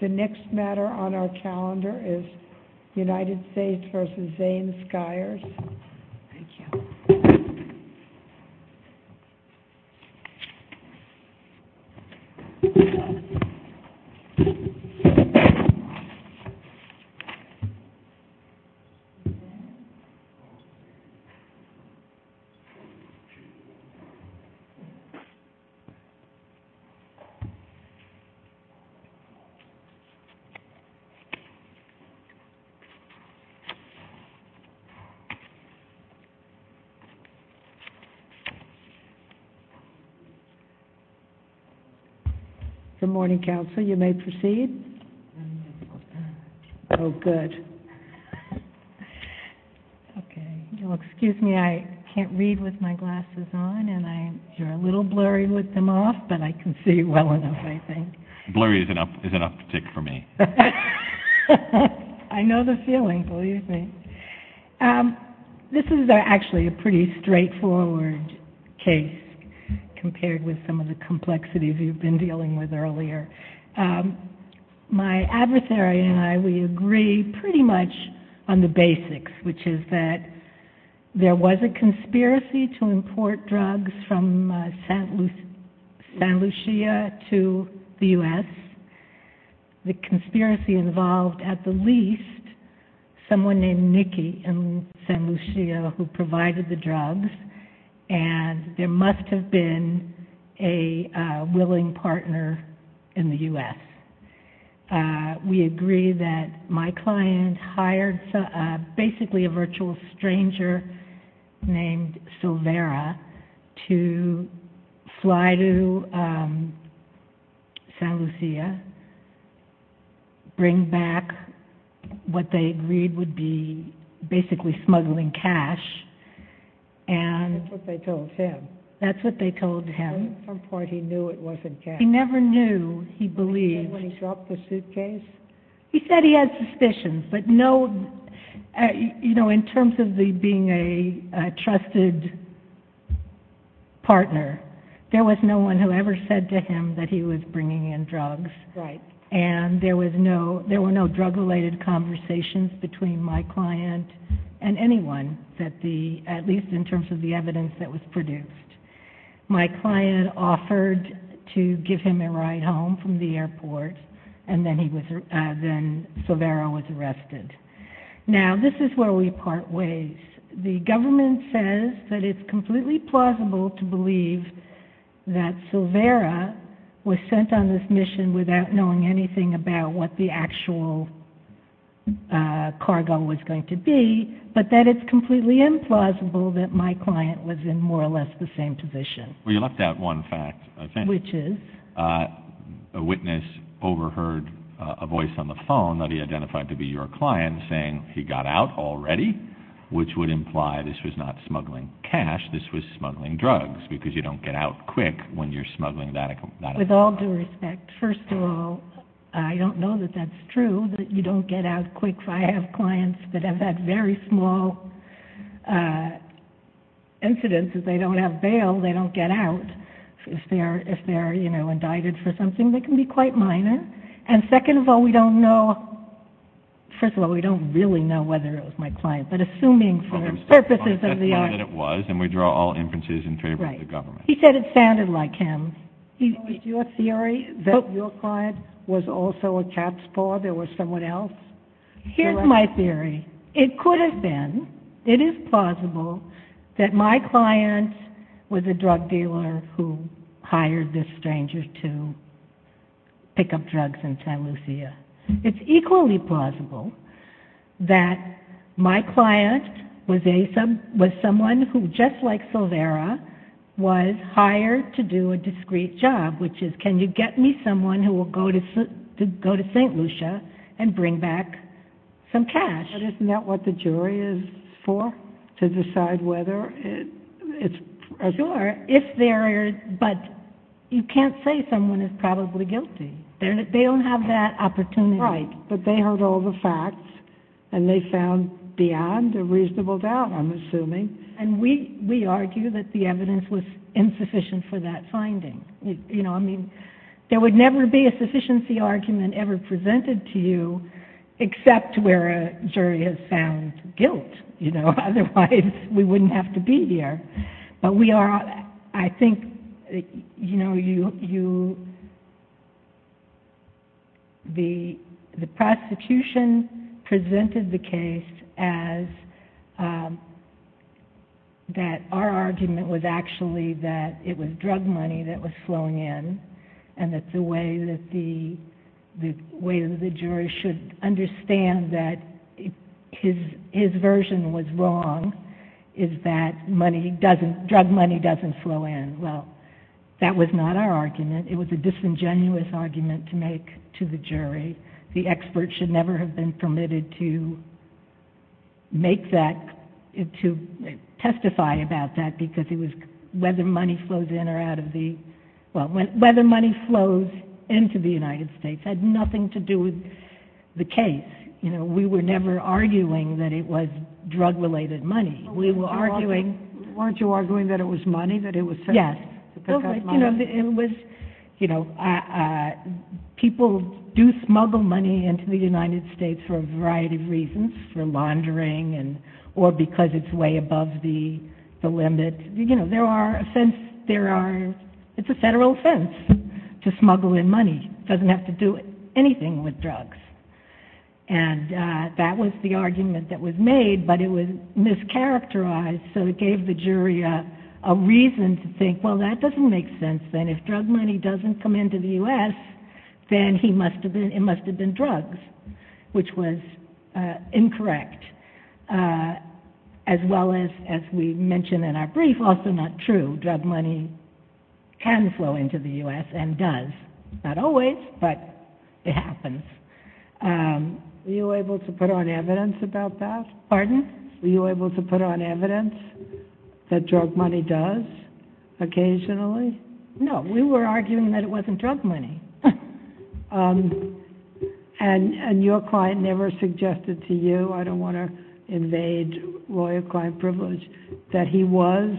The next matter on our calendar is United States v. Zanes-Skyers. Good morning, counsel. You may proceed. Oh, good. Okay. Well, excuse me. I can't read with my glasses on, and you're a little blurry with them off, but I can see well enough, I think. Blurry is an uptick for me. I know the feeling, believe me. This is actually a pretty straightforward case compared with some of the complexities you've been dealing with earlier. My adversary and I, we agree pretty much on the basics, which is that there was a conspiracy to import drugs from San Lucia to the U.S. The conspiracy involved at the least someone named Nikki in San Lucia who provided the drugs, and there must have been a willing partner in the U.S. We agree that my client hired basically a virtual stranger named Silvera to fly to San Lucia, bring back what they agreed would be basically smuggling cash. That's what they told him. That's what they told him. At some point he knew it wasn't cash. He never knew. He believed. He said when he dropped the suitcase. He said he had trusted partner. There was no one who ever said to him that he was bringing in drugs, and there were no drug-related conversations between my client and anyone, at least in terms of the evidence that was produced. My client offered to give him a ride home from the airport, and then Silvera was arrested. Now, this is where we part ways. The government says that it's completely plausible to believe that Silvera was sent on this mission without knowing anything about what the actual cargo was going to be, but that it's completely implausible that my client was in more or less the same position. Well, you left out one fact, I think. Which is? A witness overheard a voice on the phone that he identified to be your client saying he got out already, which would imply this was not smuggling cash. This was smuggling drugs because you don't get out quick when you're smuggling that. With all due respect, first of all, I don't know that that's true, that you don't get out quick. I have clients that have had very small incidents that they don't have bail. They don't get out. If they're, you know, indicted for something, they can be quite minor. And second of all, we don't know, first of all, we don't really know whether it was my client, but assuming for purposes of the argument. That's the one that it was, and we draw all inferences in favor of the government. Right. He said it sounded like him. Is your theory that your client was also a cab spore? There was someone else? Here's my theory. It could have been. It is plausible that my client was a drug dealer who hired this stranger to pick up drugs in St. Lucia. It's equally plausible that my client was someone who, just like Silvera, was hired to do a discreet job, which is can you get me someone who will go to St. Lucia and bring back some cash? But isn't that what the jury is for, to decide whether it's... Sure, if they're, but you can't say someone is probably guilty. They don't have that opportunity. Right, but they heard all the facts, and they found beyond a reasonable doubt, I'm assuming. We argue that the evidence was insufficient for that finding. There would never be a sufficiency argument ever presented to you except where a jury has found guilt. Otherwise, we wouldn't have to be here. The prosecution presented the case as that our argument was actually that it was drug money that was flowing in, and that the way that the jury should understand that his version was wrong is that money doesn't, drug money doesn't flow in. Well, that was not our argument. It was a disingenuous argument to make to the jury. The expert should never have been permitted to make that, to testify about that, because it was whether money flows in or out of the, well, whether money flows into the United States had nothing to do with the case. You know, we were never arguing that it was drug-related money. We were arguing... Weren't you arguing that it was money, that it was... Yes. Because... You know, it was, you know, people do smuggle money into the United States for a variety of reasons, for laundering, or because it's way above the limit. You know, there are, it's a federal offense to smuggle in money. It doesn't have to do anything with drugs. And that was the argument that was made, but it was mischaracterized, so it gave the jury a reason to think, well, that doesn't make sense, then. If drug money doesn't come into the U.S., then he must have been, it must have been drugs, which was incorrect, as well as, as we mentioned in our brief, also not true. Drug money can flow into the U.S. and does. Not always, but it happens. Were you able to put on evidence about that? Pardon? Were you able to put on evidence that drug money does, occasionally? No. We were arguing that it wasn't drug money. And your client never suggested to you, I don't want to invade lawyer-client privilege, that he was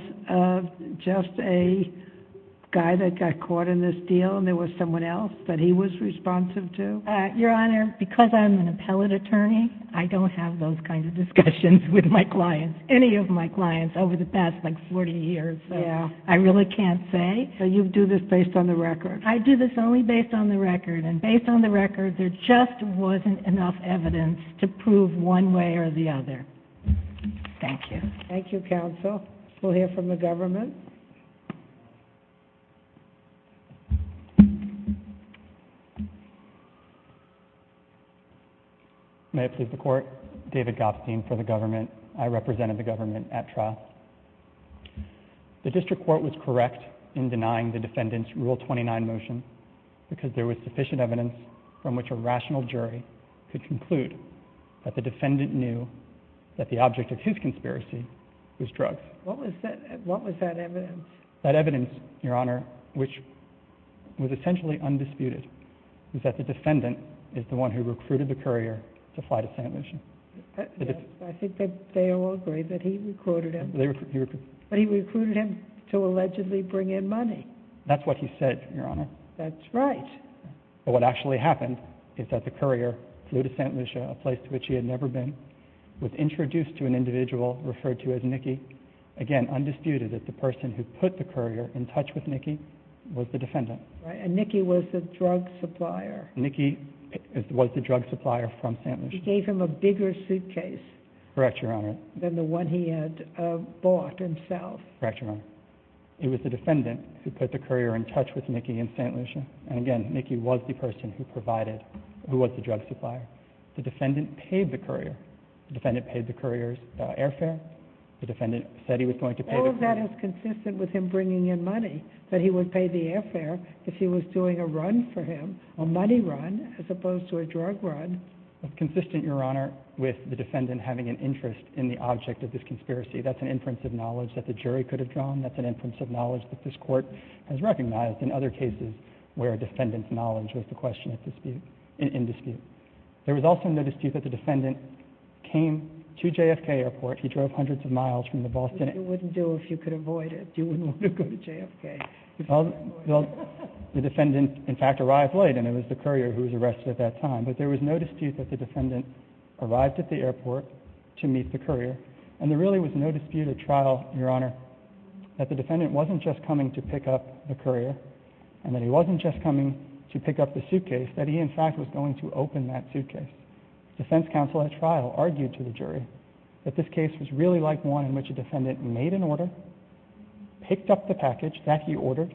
just a guy that got caught in this deal and there was someone else that he was responsive to? Your Honor, because I'm an appellate attorney, I don't have those kinds of discussions with my clients, any of my clients, over the past, like, 40 years. Yeah. I really can't say. So you do this based on the record? I do this only based on the record, and based on the record, there just wasn't enough evidence to prove one way or the other. Thank you. Thank you, counsel. We'll hear from the government. May it please the Court, David Gopstein for the government. I represented the government at trial. The district court was correct in denying the defendant's Rule 29 motion, because there was sufficient evidence from which a rational jury could conclude that the defendant knew that the object of his conspiracy was drugs. What was that evidence? That evidence, Your Honor, which was essentially undisputed, was that the defendant is the one who recruited the courier to fly to St. Lucie. I think they all agree that he recruited him. But he recruited him to allegedly bring in money. That's what he said, Your Honor. That's right. But what actually happened is that the courier flew to St. Lucie, a place to which he had never been, was introduced to an individual referred to as Nicky. Again, undisputed that the person who put the courier in touch with Nicky was the defendant. Nicky was the drug supplier from St. Lucie. He gave him a bigger suitcase. Correct, Your Honor. Than the one he had bought himself. Correct, Your Honor. It was the defendant who put the courier in touch with Nicky in St. Lucie. And again, Nicky was the person who provided, who was the drug supplier. The defendant paid the courier. The defendant paid the courier's airfare. The defendant said he was going to pay the courier. How is that as consistent with him bringing in money, that he would pay the airfare if he was doing a run for him, a money run, as opposed to a drug run? Consistent, Your Honor, with the defendant having an interest in the object of this conspiracy. That's an inference of knowledge that the jury could have drawn. That's an inference of knowledge that this court has recognized in other cases where a defendant's knowledge was the question in dispute. There was also no dispute that the defendant came to JFK Airport. He drove hundreds of miles from the Boston airport. Which you wouldn't do if you could avoid it. You wouldn't want to go to JFK. The defendant, in fact, arrived late, and it was the courier who was arrested at that time, but there was no dispute that the defendant arrived at the airport to meet the courier, and there really was no dispute at trial, Your Honor, that the defendant wasn't just coming to pick up the courier, and that he wasn't just coming to pick up the suitcase, that he, in fact, was going to open that suitcase. Defense counsel at trial argued to the jury that this case was really like one in which a defendant made an order, picked up the package that he ordered,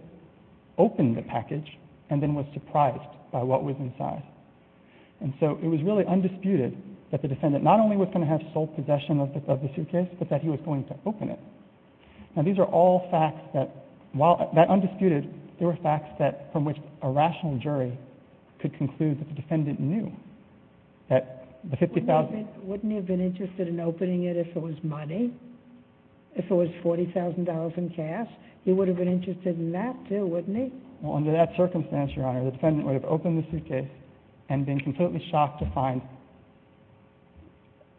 opened the package, and then was surprised by what was inside. And so it was really undisputed that the defendant not only was going to have sole possession of the suitcase, but that he was going to open it. Now, these are all facts that, while they're undisputed, they were facts from which a rational jury could conclude that the defendant knew that the $50,000 Wouldn't he have been interested in opening it if it was money, if it was $40,000 in cash? He would have been interested in that, too, wouldn't he? Well, under that circumstance, Your Honor, the defendant would have opened the suitcase and been completely shocked to find,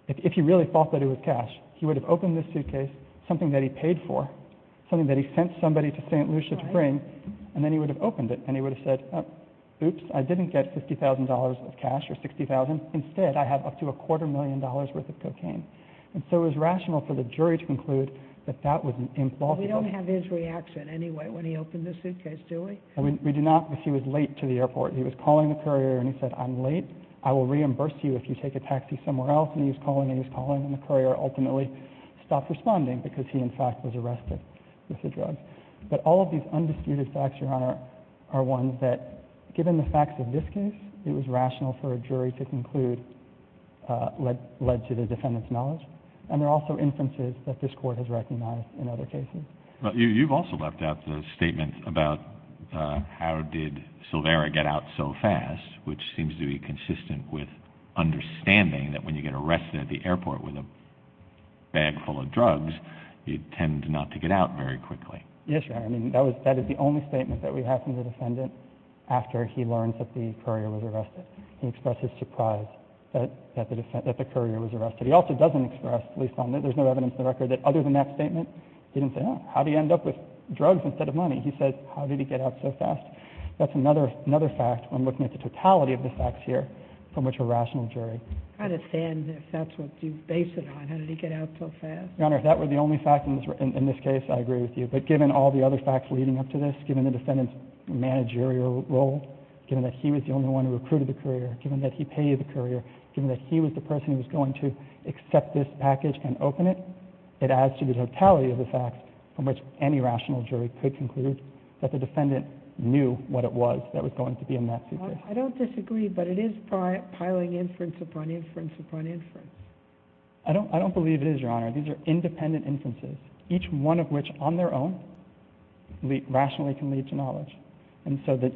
if he really thought that it was cash, he would have opened the suitcase, something that he paid for, something that he sent somebody to St. Lucia to bring, and then he would have opened it, and he would have said, oops, I didn't get $50,000 of cash or $60,000. Instead, I have up to a quarter million dollars' worth of cocaine. And so it was rational for the jury to conclude that that was an impolite We don't have his reaction anyway when he opened the suitcase, do we? We do not, because he was late to the airport. He was calling the courier and he said, I'm late. I will reimburse you if you take a taxi somewhere else. And he was calling and he was calling, and the courier ultimately stopped responding because he, in fact, was arrested with the drugs. But all of these undisputed facts, Your Honor, are ones that, given the facts of this case, it was rational for a jury to conclude, led to the defendant's knowledge. And there are also instances that this court has recognized in other cases. You've also left out the statement about how did Silveira get out so fast, which seems to be consistent with understanding that when you get arrested at the airport with a bag full of drugs, you tend not to get out very quickly. Yes, Your Honor. I mean, that is the only statement that we have from the defendant after he learned that the courier was arrested. He expressed his surprise that the courier was arrested. He also doesn't express, at least on that, there's no evidence in the record that other than that statement, he didn't say, oh, how did he end up with drugs instead of money? He said, how did he get out so fast? That's another fact when looking at the totality of the facts here from which a rational jury. I understand if that's what you base it on, how did he get out so fast. Your Honor, if that were the only fact in this case, I agree with you. But given all the other facts leading up to this, given the defendant's managerial role, given that he was the only one who recruited the courier, given that he paid the courier, given that he was the person who was going to accept this package and open it, it adds to the totality of the facts from which any rational jury could conclude that the defendant knew what it was that was going to be in that suitcase. I don't disagree, but it is piling inference upon inference upon inference. I don't believe it is, Your Honor. These are independent inferences, each one of which on their own rationally can lead to knowledge. And so the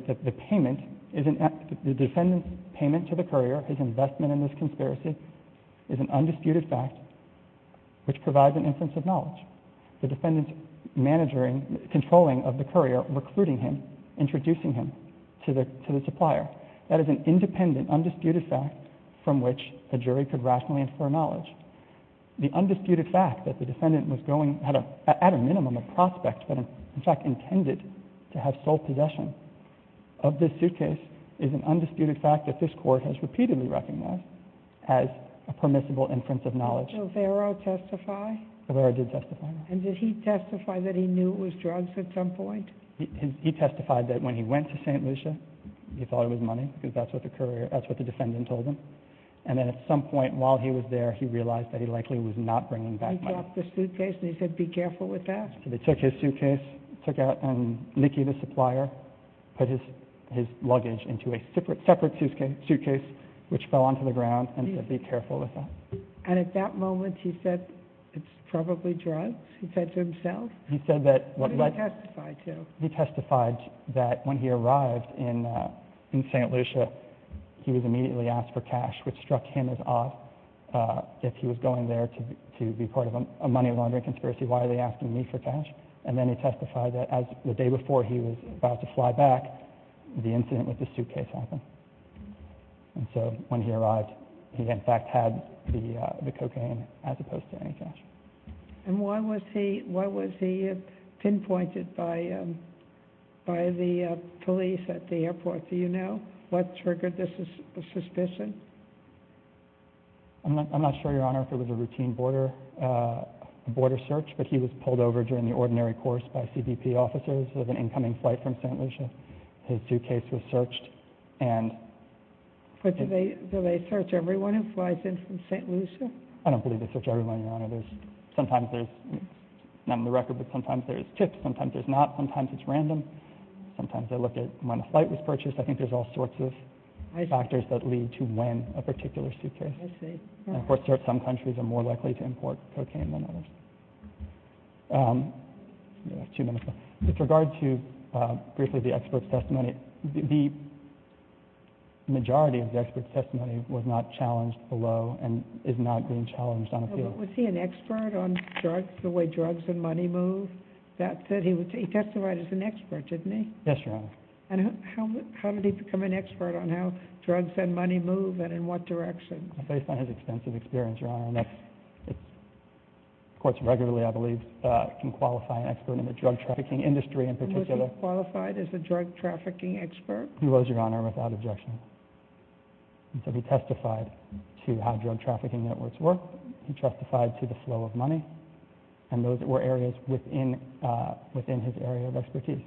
defendant's payment to the courier, his investment in this conspiracy, is an undisputed fact which provides an inference of knowledge. The defendant's controlling of the courier, recruiting him, introducing him to the supplier. That is an independent, undisputed fact from which a jury could rationally infer knowledge. The undisputed fact that the defendant was going, at a minimum, a prospect, but in fact intended to have sole possession of this suitcase, is an undisputed fact that this Court has repeatedly recognized as a permissible inference of knowledge. Did Silvero testify? Silvero did testify. And did he testify that he knew it was drugs at some point? He testified that when he went to St. Lucia, he thought it was money, because that's what the defendant told him. And then at some point while he was there, he realized that he likely was not bringing back money. He dropped the suitcase and he said, be careful with that? So they took his suitcase, took out and leaked it to the supplier, put his luggage into a separate suitcase, which fell onto the ground, and said, be careful with that. And at that moment he said, it's probably drugs? He said to himself? He said that. What did he testify to? He testified that when he arrived in St. Lucia, he was immediately asked for cash, which struck him as odd. If he was going there to be part of a money laundering conspiracy, why are they asking me for cash? And then he testified that the day before he was about to fly back, the incident with the suitcase happened. And so when he arrived, he in fact had the cocaine as opposed to any cash. And why was he pinpointed by the police at the airport? Do you know what triggered the suspicion? I'm not sure, Your Honor, if it was a routine border search, but he was pulled over during the ordinary course by CBP officers of an incoming flight from St. Lucia. His suitcase was searched. But do they search everyone who flies in from St. Lucia? I don't believe they search everyone, Your Honor. Sometimes there's none on the record, but sometimes there's tips. Sometimes there's not. Sometimes it's random. Sometimes they look at when a flight was purchased. I think there's all sorts of factors that lead to when a particular suitcase was purchased. Some countries are more likely to import cocaine than others. With regard to briefly the expert's testimony, the majority of the expert's testimony was not challenged below and is not being challenged on appeal. Was he an expert on drugs, the way drugs and money move? Yes, Your Honor. And how did he become an expert on how drugs and money move and in what direction? Based on his extensive experience, Your Honor, and of course regularly I believe can qualify an expert in the drug trafficking industry in particular. Was he qualified as a drug trafficking expert? He was, Your Honor, without objection. He testified to how drug trafficking networks work. He testified to the flow of money. And those were areas within his area of expertise.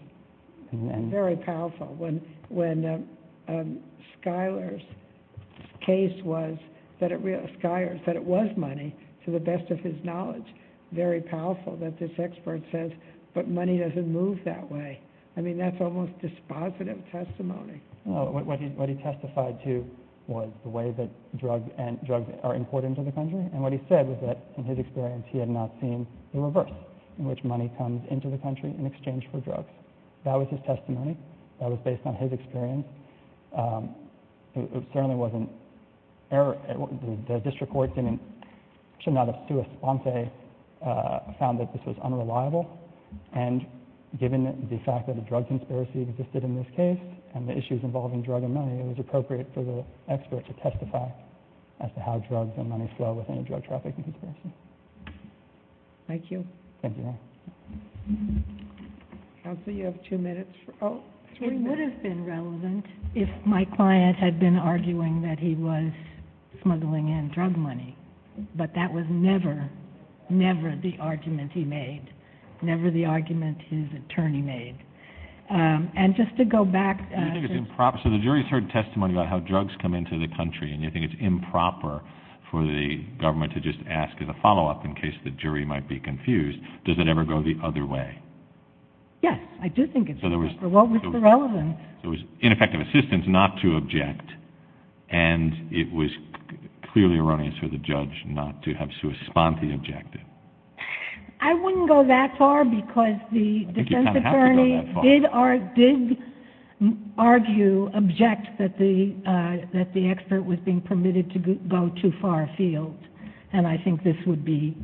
Very powerful. When Schuyler's case was that it was money, to the best of his knowledge, very powerful that this expert says, but money doesn't move that way. I mean, that's almost dispositive testimony. What he testified to was the way that drugs are imported into the country, and what he said was that in his experience he had not seen the reverse, in which money comes into the country in exchange for drugs. That was his testimony. That was based on his experience. It certainly wasn't error. The district court should not have sous-esponsé found that this was unreliable. And given the fact that a drug conspiracy existed in this case and the issues involving drug and money, it was appropriate for the expert to testify as to how drugs and money flow within a drug trafficking conspiracy. Thank you. Thank you. Counsel, you have two minutes. It would have been relevant if my client had been arguing that he was smuggling in drug money, but that was never, never the argument he made, never the argument his attorney made. And just to go back. So the jury has heard testimony about how drugs come into the country, and you think it's improper for the government to just ask as a follow-up in case the jury might be confused. Does it ever go the other way? Yes, I do think it's improper. What was the relevance? It was ineffective assistance not to object, and it was clearly erroneous for the judge not to have sous-esponsé objected. I wouldn't go that far because the defense attorney did argue, object that the expert was being permitted to go too far afield, and I think this would be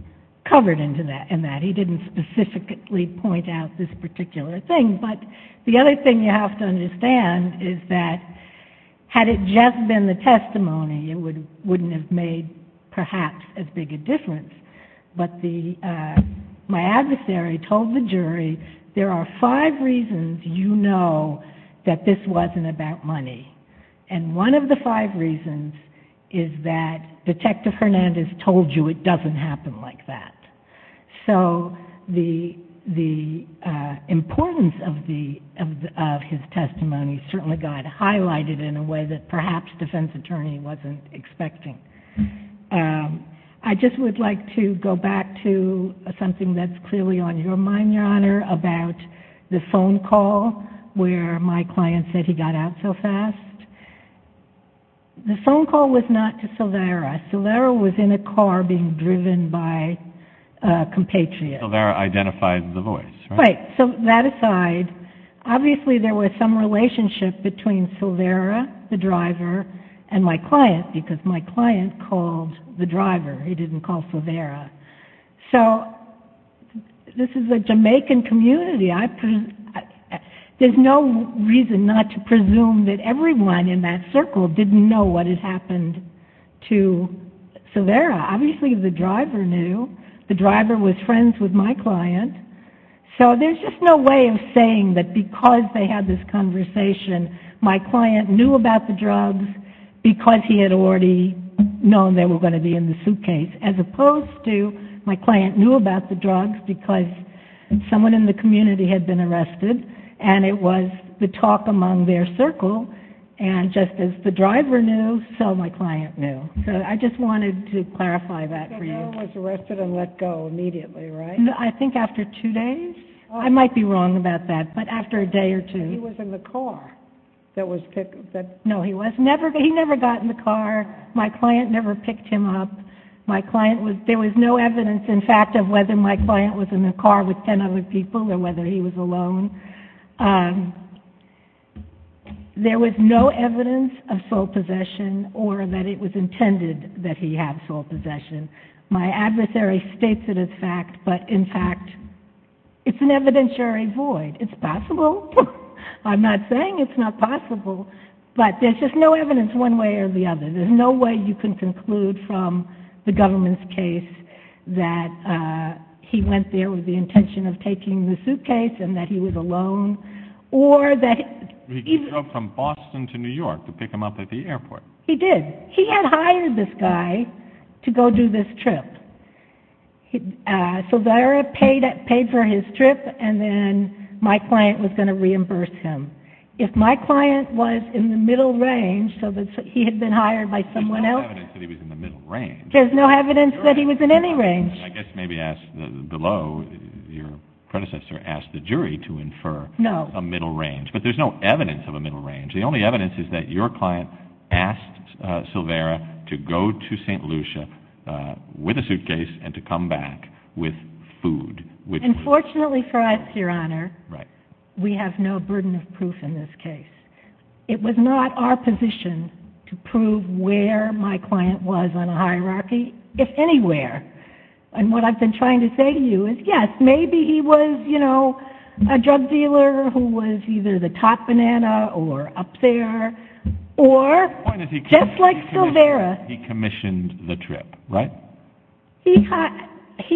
covered in that. He didn't specifically point out this particular thing. But the other thing you have to understand is that had it just been the testimony, it wouldn't have made perhaps as big a difference. But my adversary told the jury, there are five reasons you know that this wasn't about money, and one of the five reasons is that Detective Hernandez told you it doesn't happen like that. So the importance of his testimony certainly got highlighted in a way that perhaps the defense attorney wasn't expecting. I just would like to go back to something that's clearly on your mind, Your Honor, about the phone call where my client said he got out so fast. The phone call was not to Silvera. Silvera was in a car being driven by a compatriot. Silvera identified the voice, right? Right. So that aside, obviously there was some relationship between Silvera, the driver, and my client because my client called the driver. He didn't call Silvera. So this is a Jamaican community. There's no reason not to presume that everyone in that circle didn't know what had happened to Silvera. Obviously the driver knew. The driver was friends with my client. So there's just no way of saying that because they had this conversation, my client knew about the drugs because he had already known they were going to be in the suitcase as opposed to my client knew about the drugs because someone in the community had been arrested and it was the talk among their circle. And just as the driver knew, so my client knew. So I just wanted to clarify that for you. Silvera was arrested and let go immediately, right? I think after two days. I might be wrong about that, but after a day or two. He was in the car that was picked up. No, he was never. He never got in the car. My client never picked him up. There was no evidence in fact of whether my client was in the car with 10 other people or whether he was alone. There was no evidence of sole possession or that it was intended that he have sole possession. My adversary states it as fact, but in fact it's an evidentiary void. It's possible. I'm not saying it's not possible, but there's just no evidence one way or the other. There's no way you can conclude from the government's case that he went there with the intention of taking the suitcase and that he was alone or that he... He drove from Boston to New York to pick him up at the airport. He did. He had hired this guy to go do this trip. Silvera paid for his trip and then my client was going to reimburse him. If my client was in the middle range so that he had been hired by someone else... There's no evidence that he was in the middle range. There's no evidence that he was in any range. I guess maybe ask below, your predecessor asked the jury to infer a middle range. No. But there's no evidence of a middle range. The only evidence is that your client asked Silvera to go to St. Lucia with a suitcase and to come back with food. Unfortunately for us, your Honor, we have no burden of proof in this case. It was not our position to prove where my client was on a hierarchy, if anywhere. And what I've been trying to say to you is, yes, maybe he was a drug dealer who was either the top banana or up there or just like Silvera. He commissioned the trip, right? He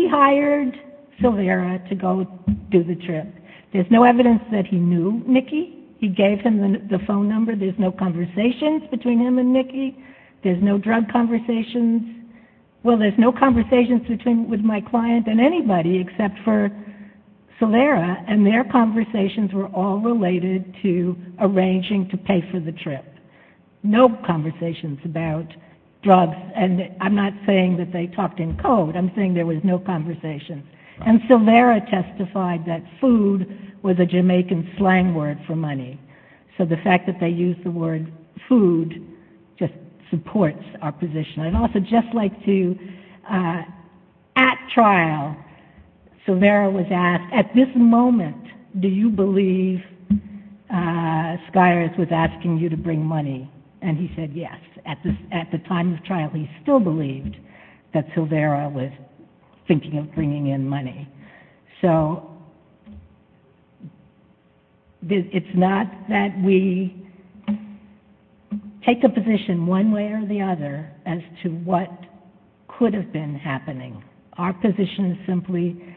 hired Silvera to go do the trip. There's no evidence that he knew Nicky. He gave him the phone number. There's no conversations between him and Nicky. There's no drug conversations. Well, there's no conversations with my client and anybody except for Silvera and their conversations were all related to arranging to pay for the trip. No conversations about drugs. And I'm not saying that they talked in code. I'm saying there was no conversations. And Silvera testified that food was a Jamaican slang word for money. So the fact that they used the word food just supports our position. I'd also just like to, at trial, Silvera was asked, at this moment, do you believe Skyers was asking you to bring money? And he said yes. At the time of trial, he still believed that Silvera was thinking of bringing in money. So it's not that we take a position one way or the other as to what could have been happening. Our position is simply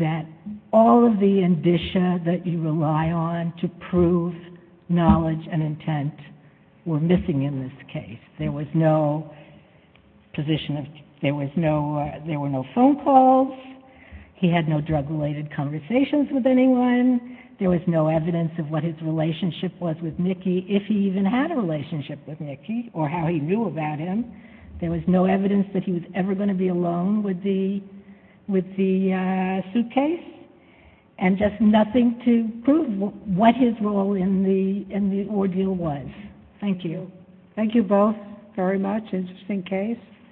that all of the indicia that you rely on to prove knowledge and intent were missing in this case. There was no phone calls. He had no drug-related conversations with anyone. There was no evidence of what his relationship was with Nicky, if he even had a relationship with Nicky or how he knew about him. There was no evidence that he was ever going to be alone with the suitcase and just nothing to prove what his role in the ordeal was. Thank you. Thank you both very much. Interesting case.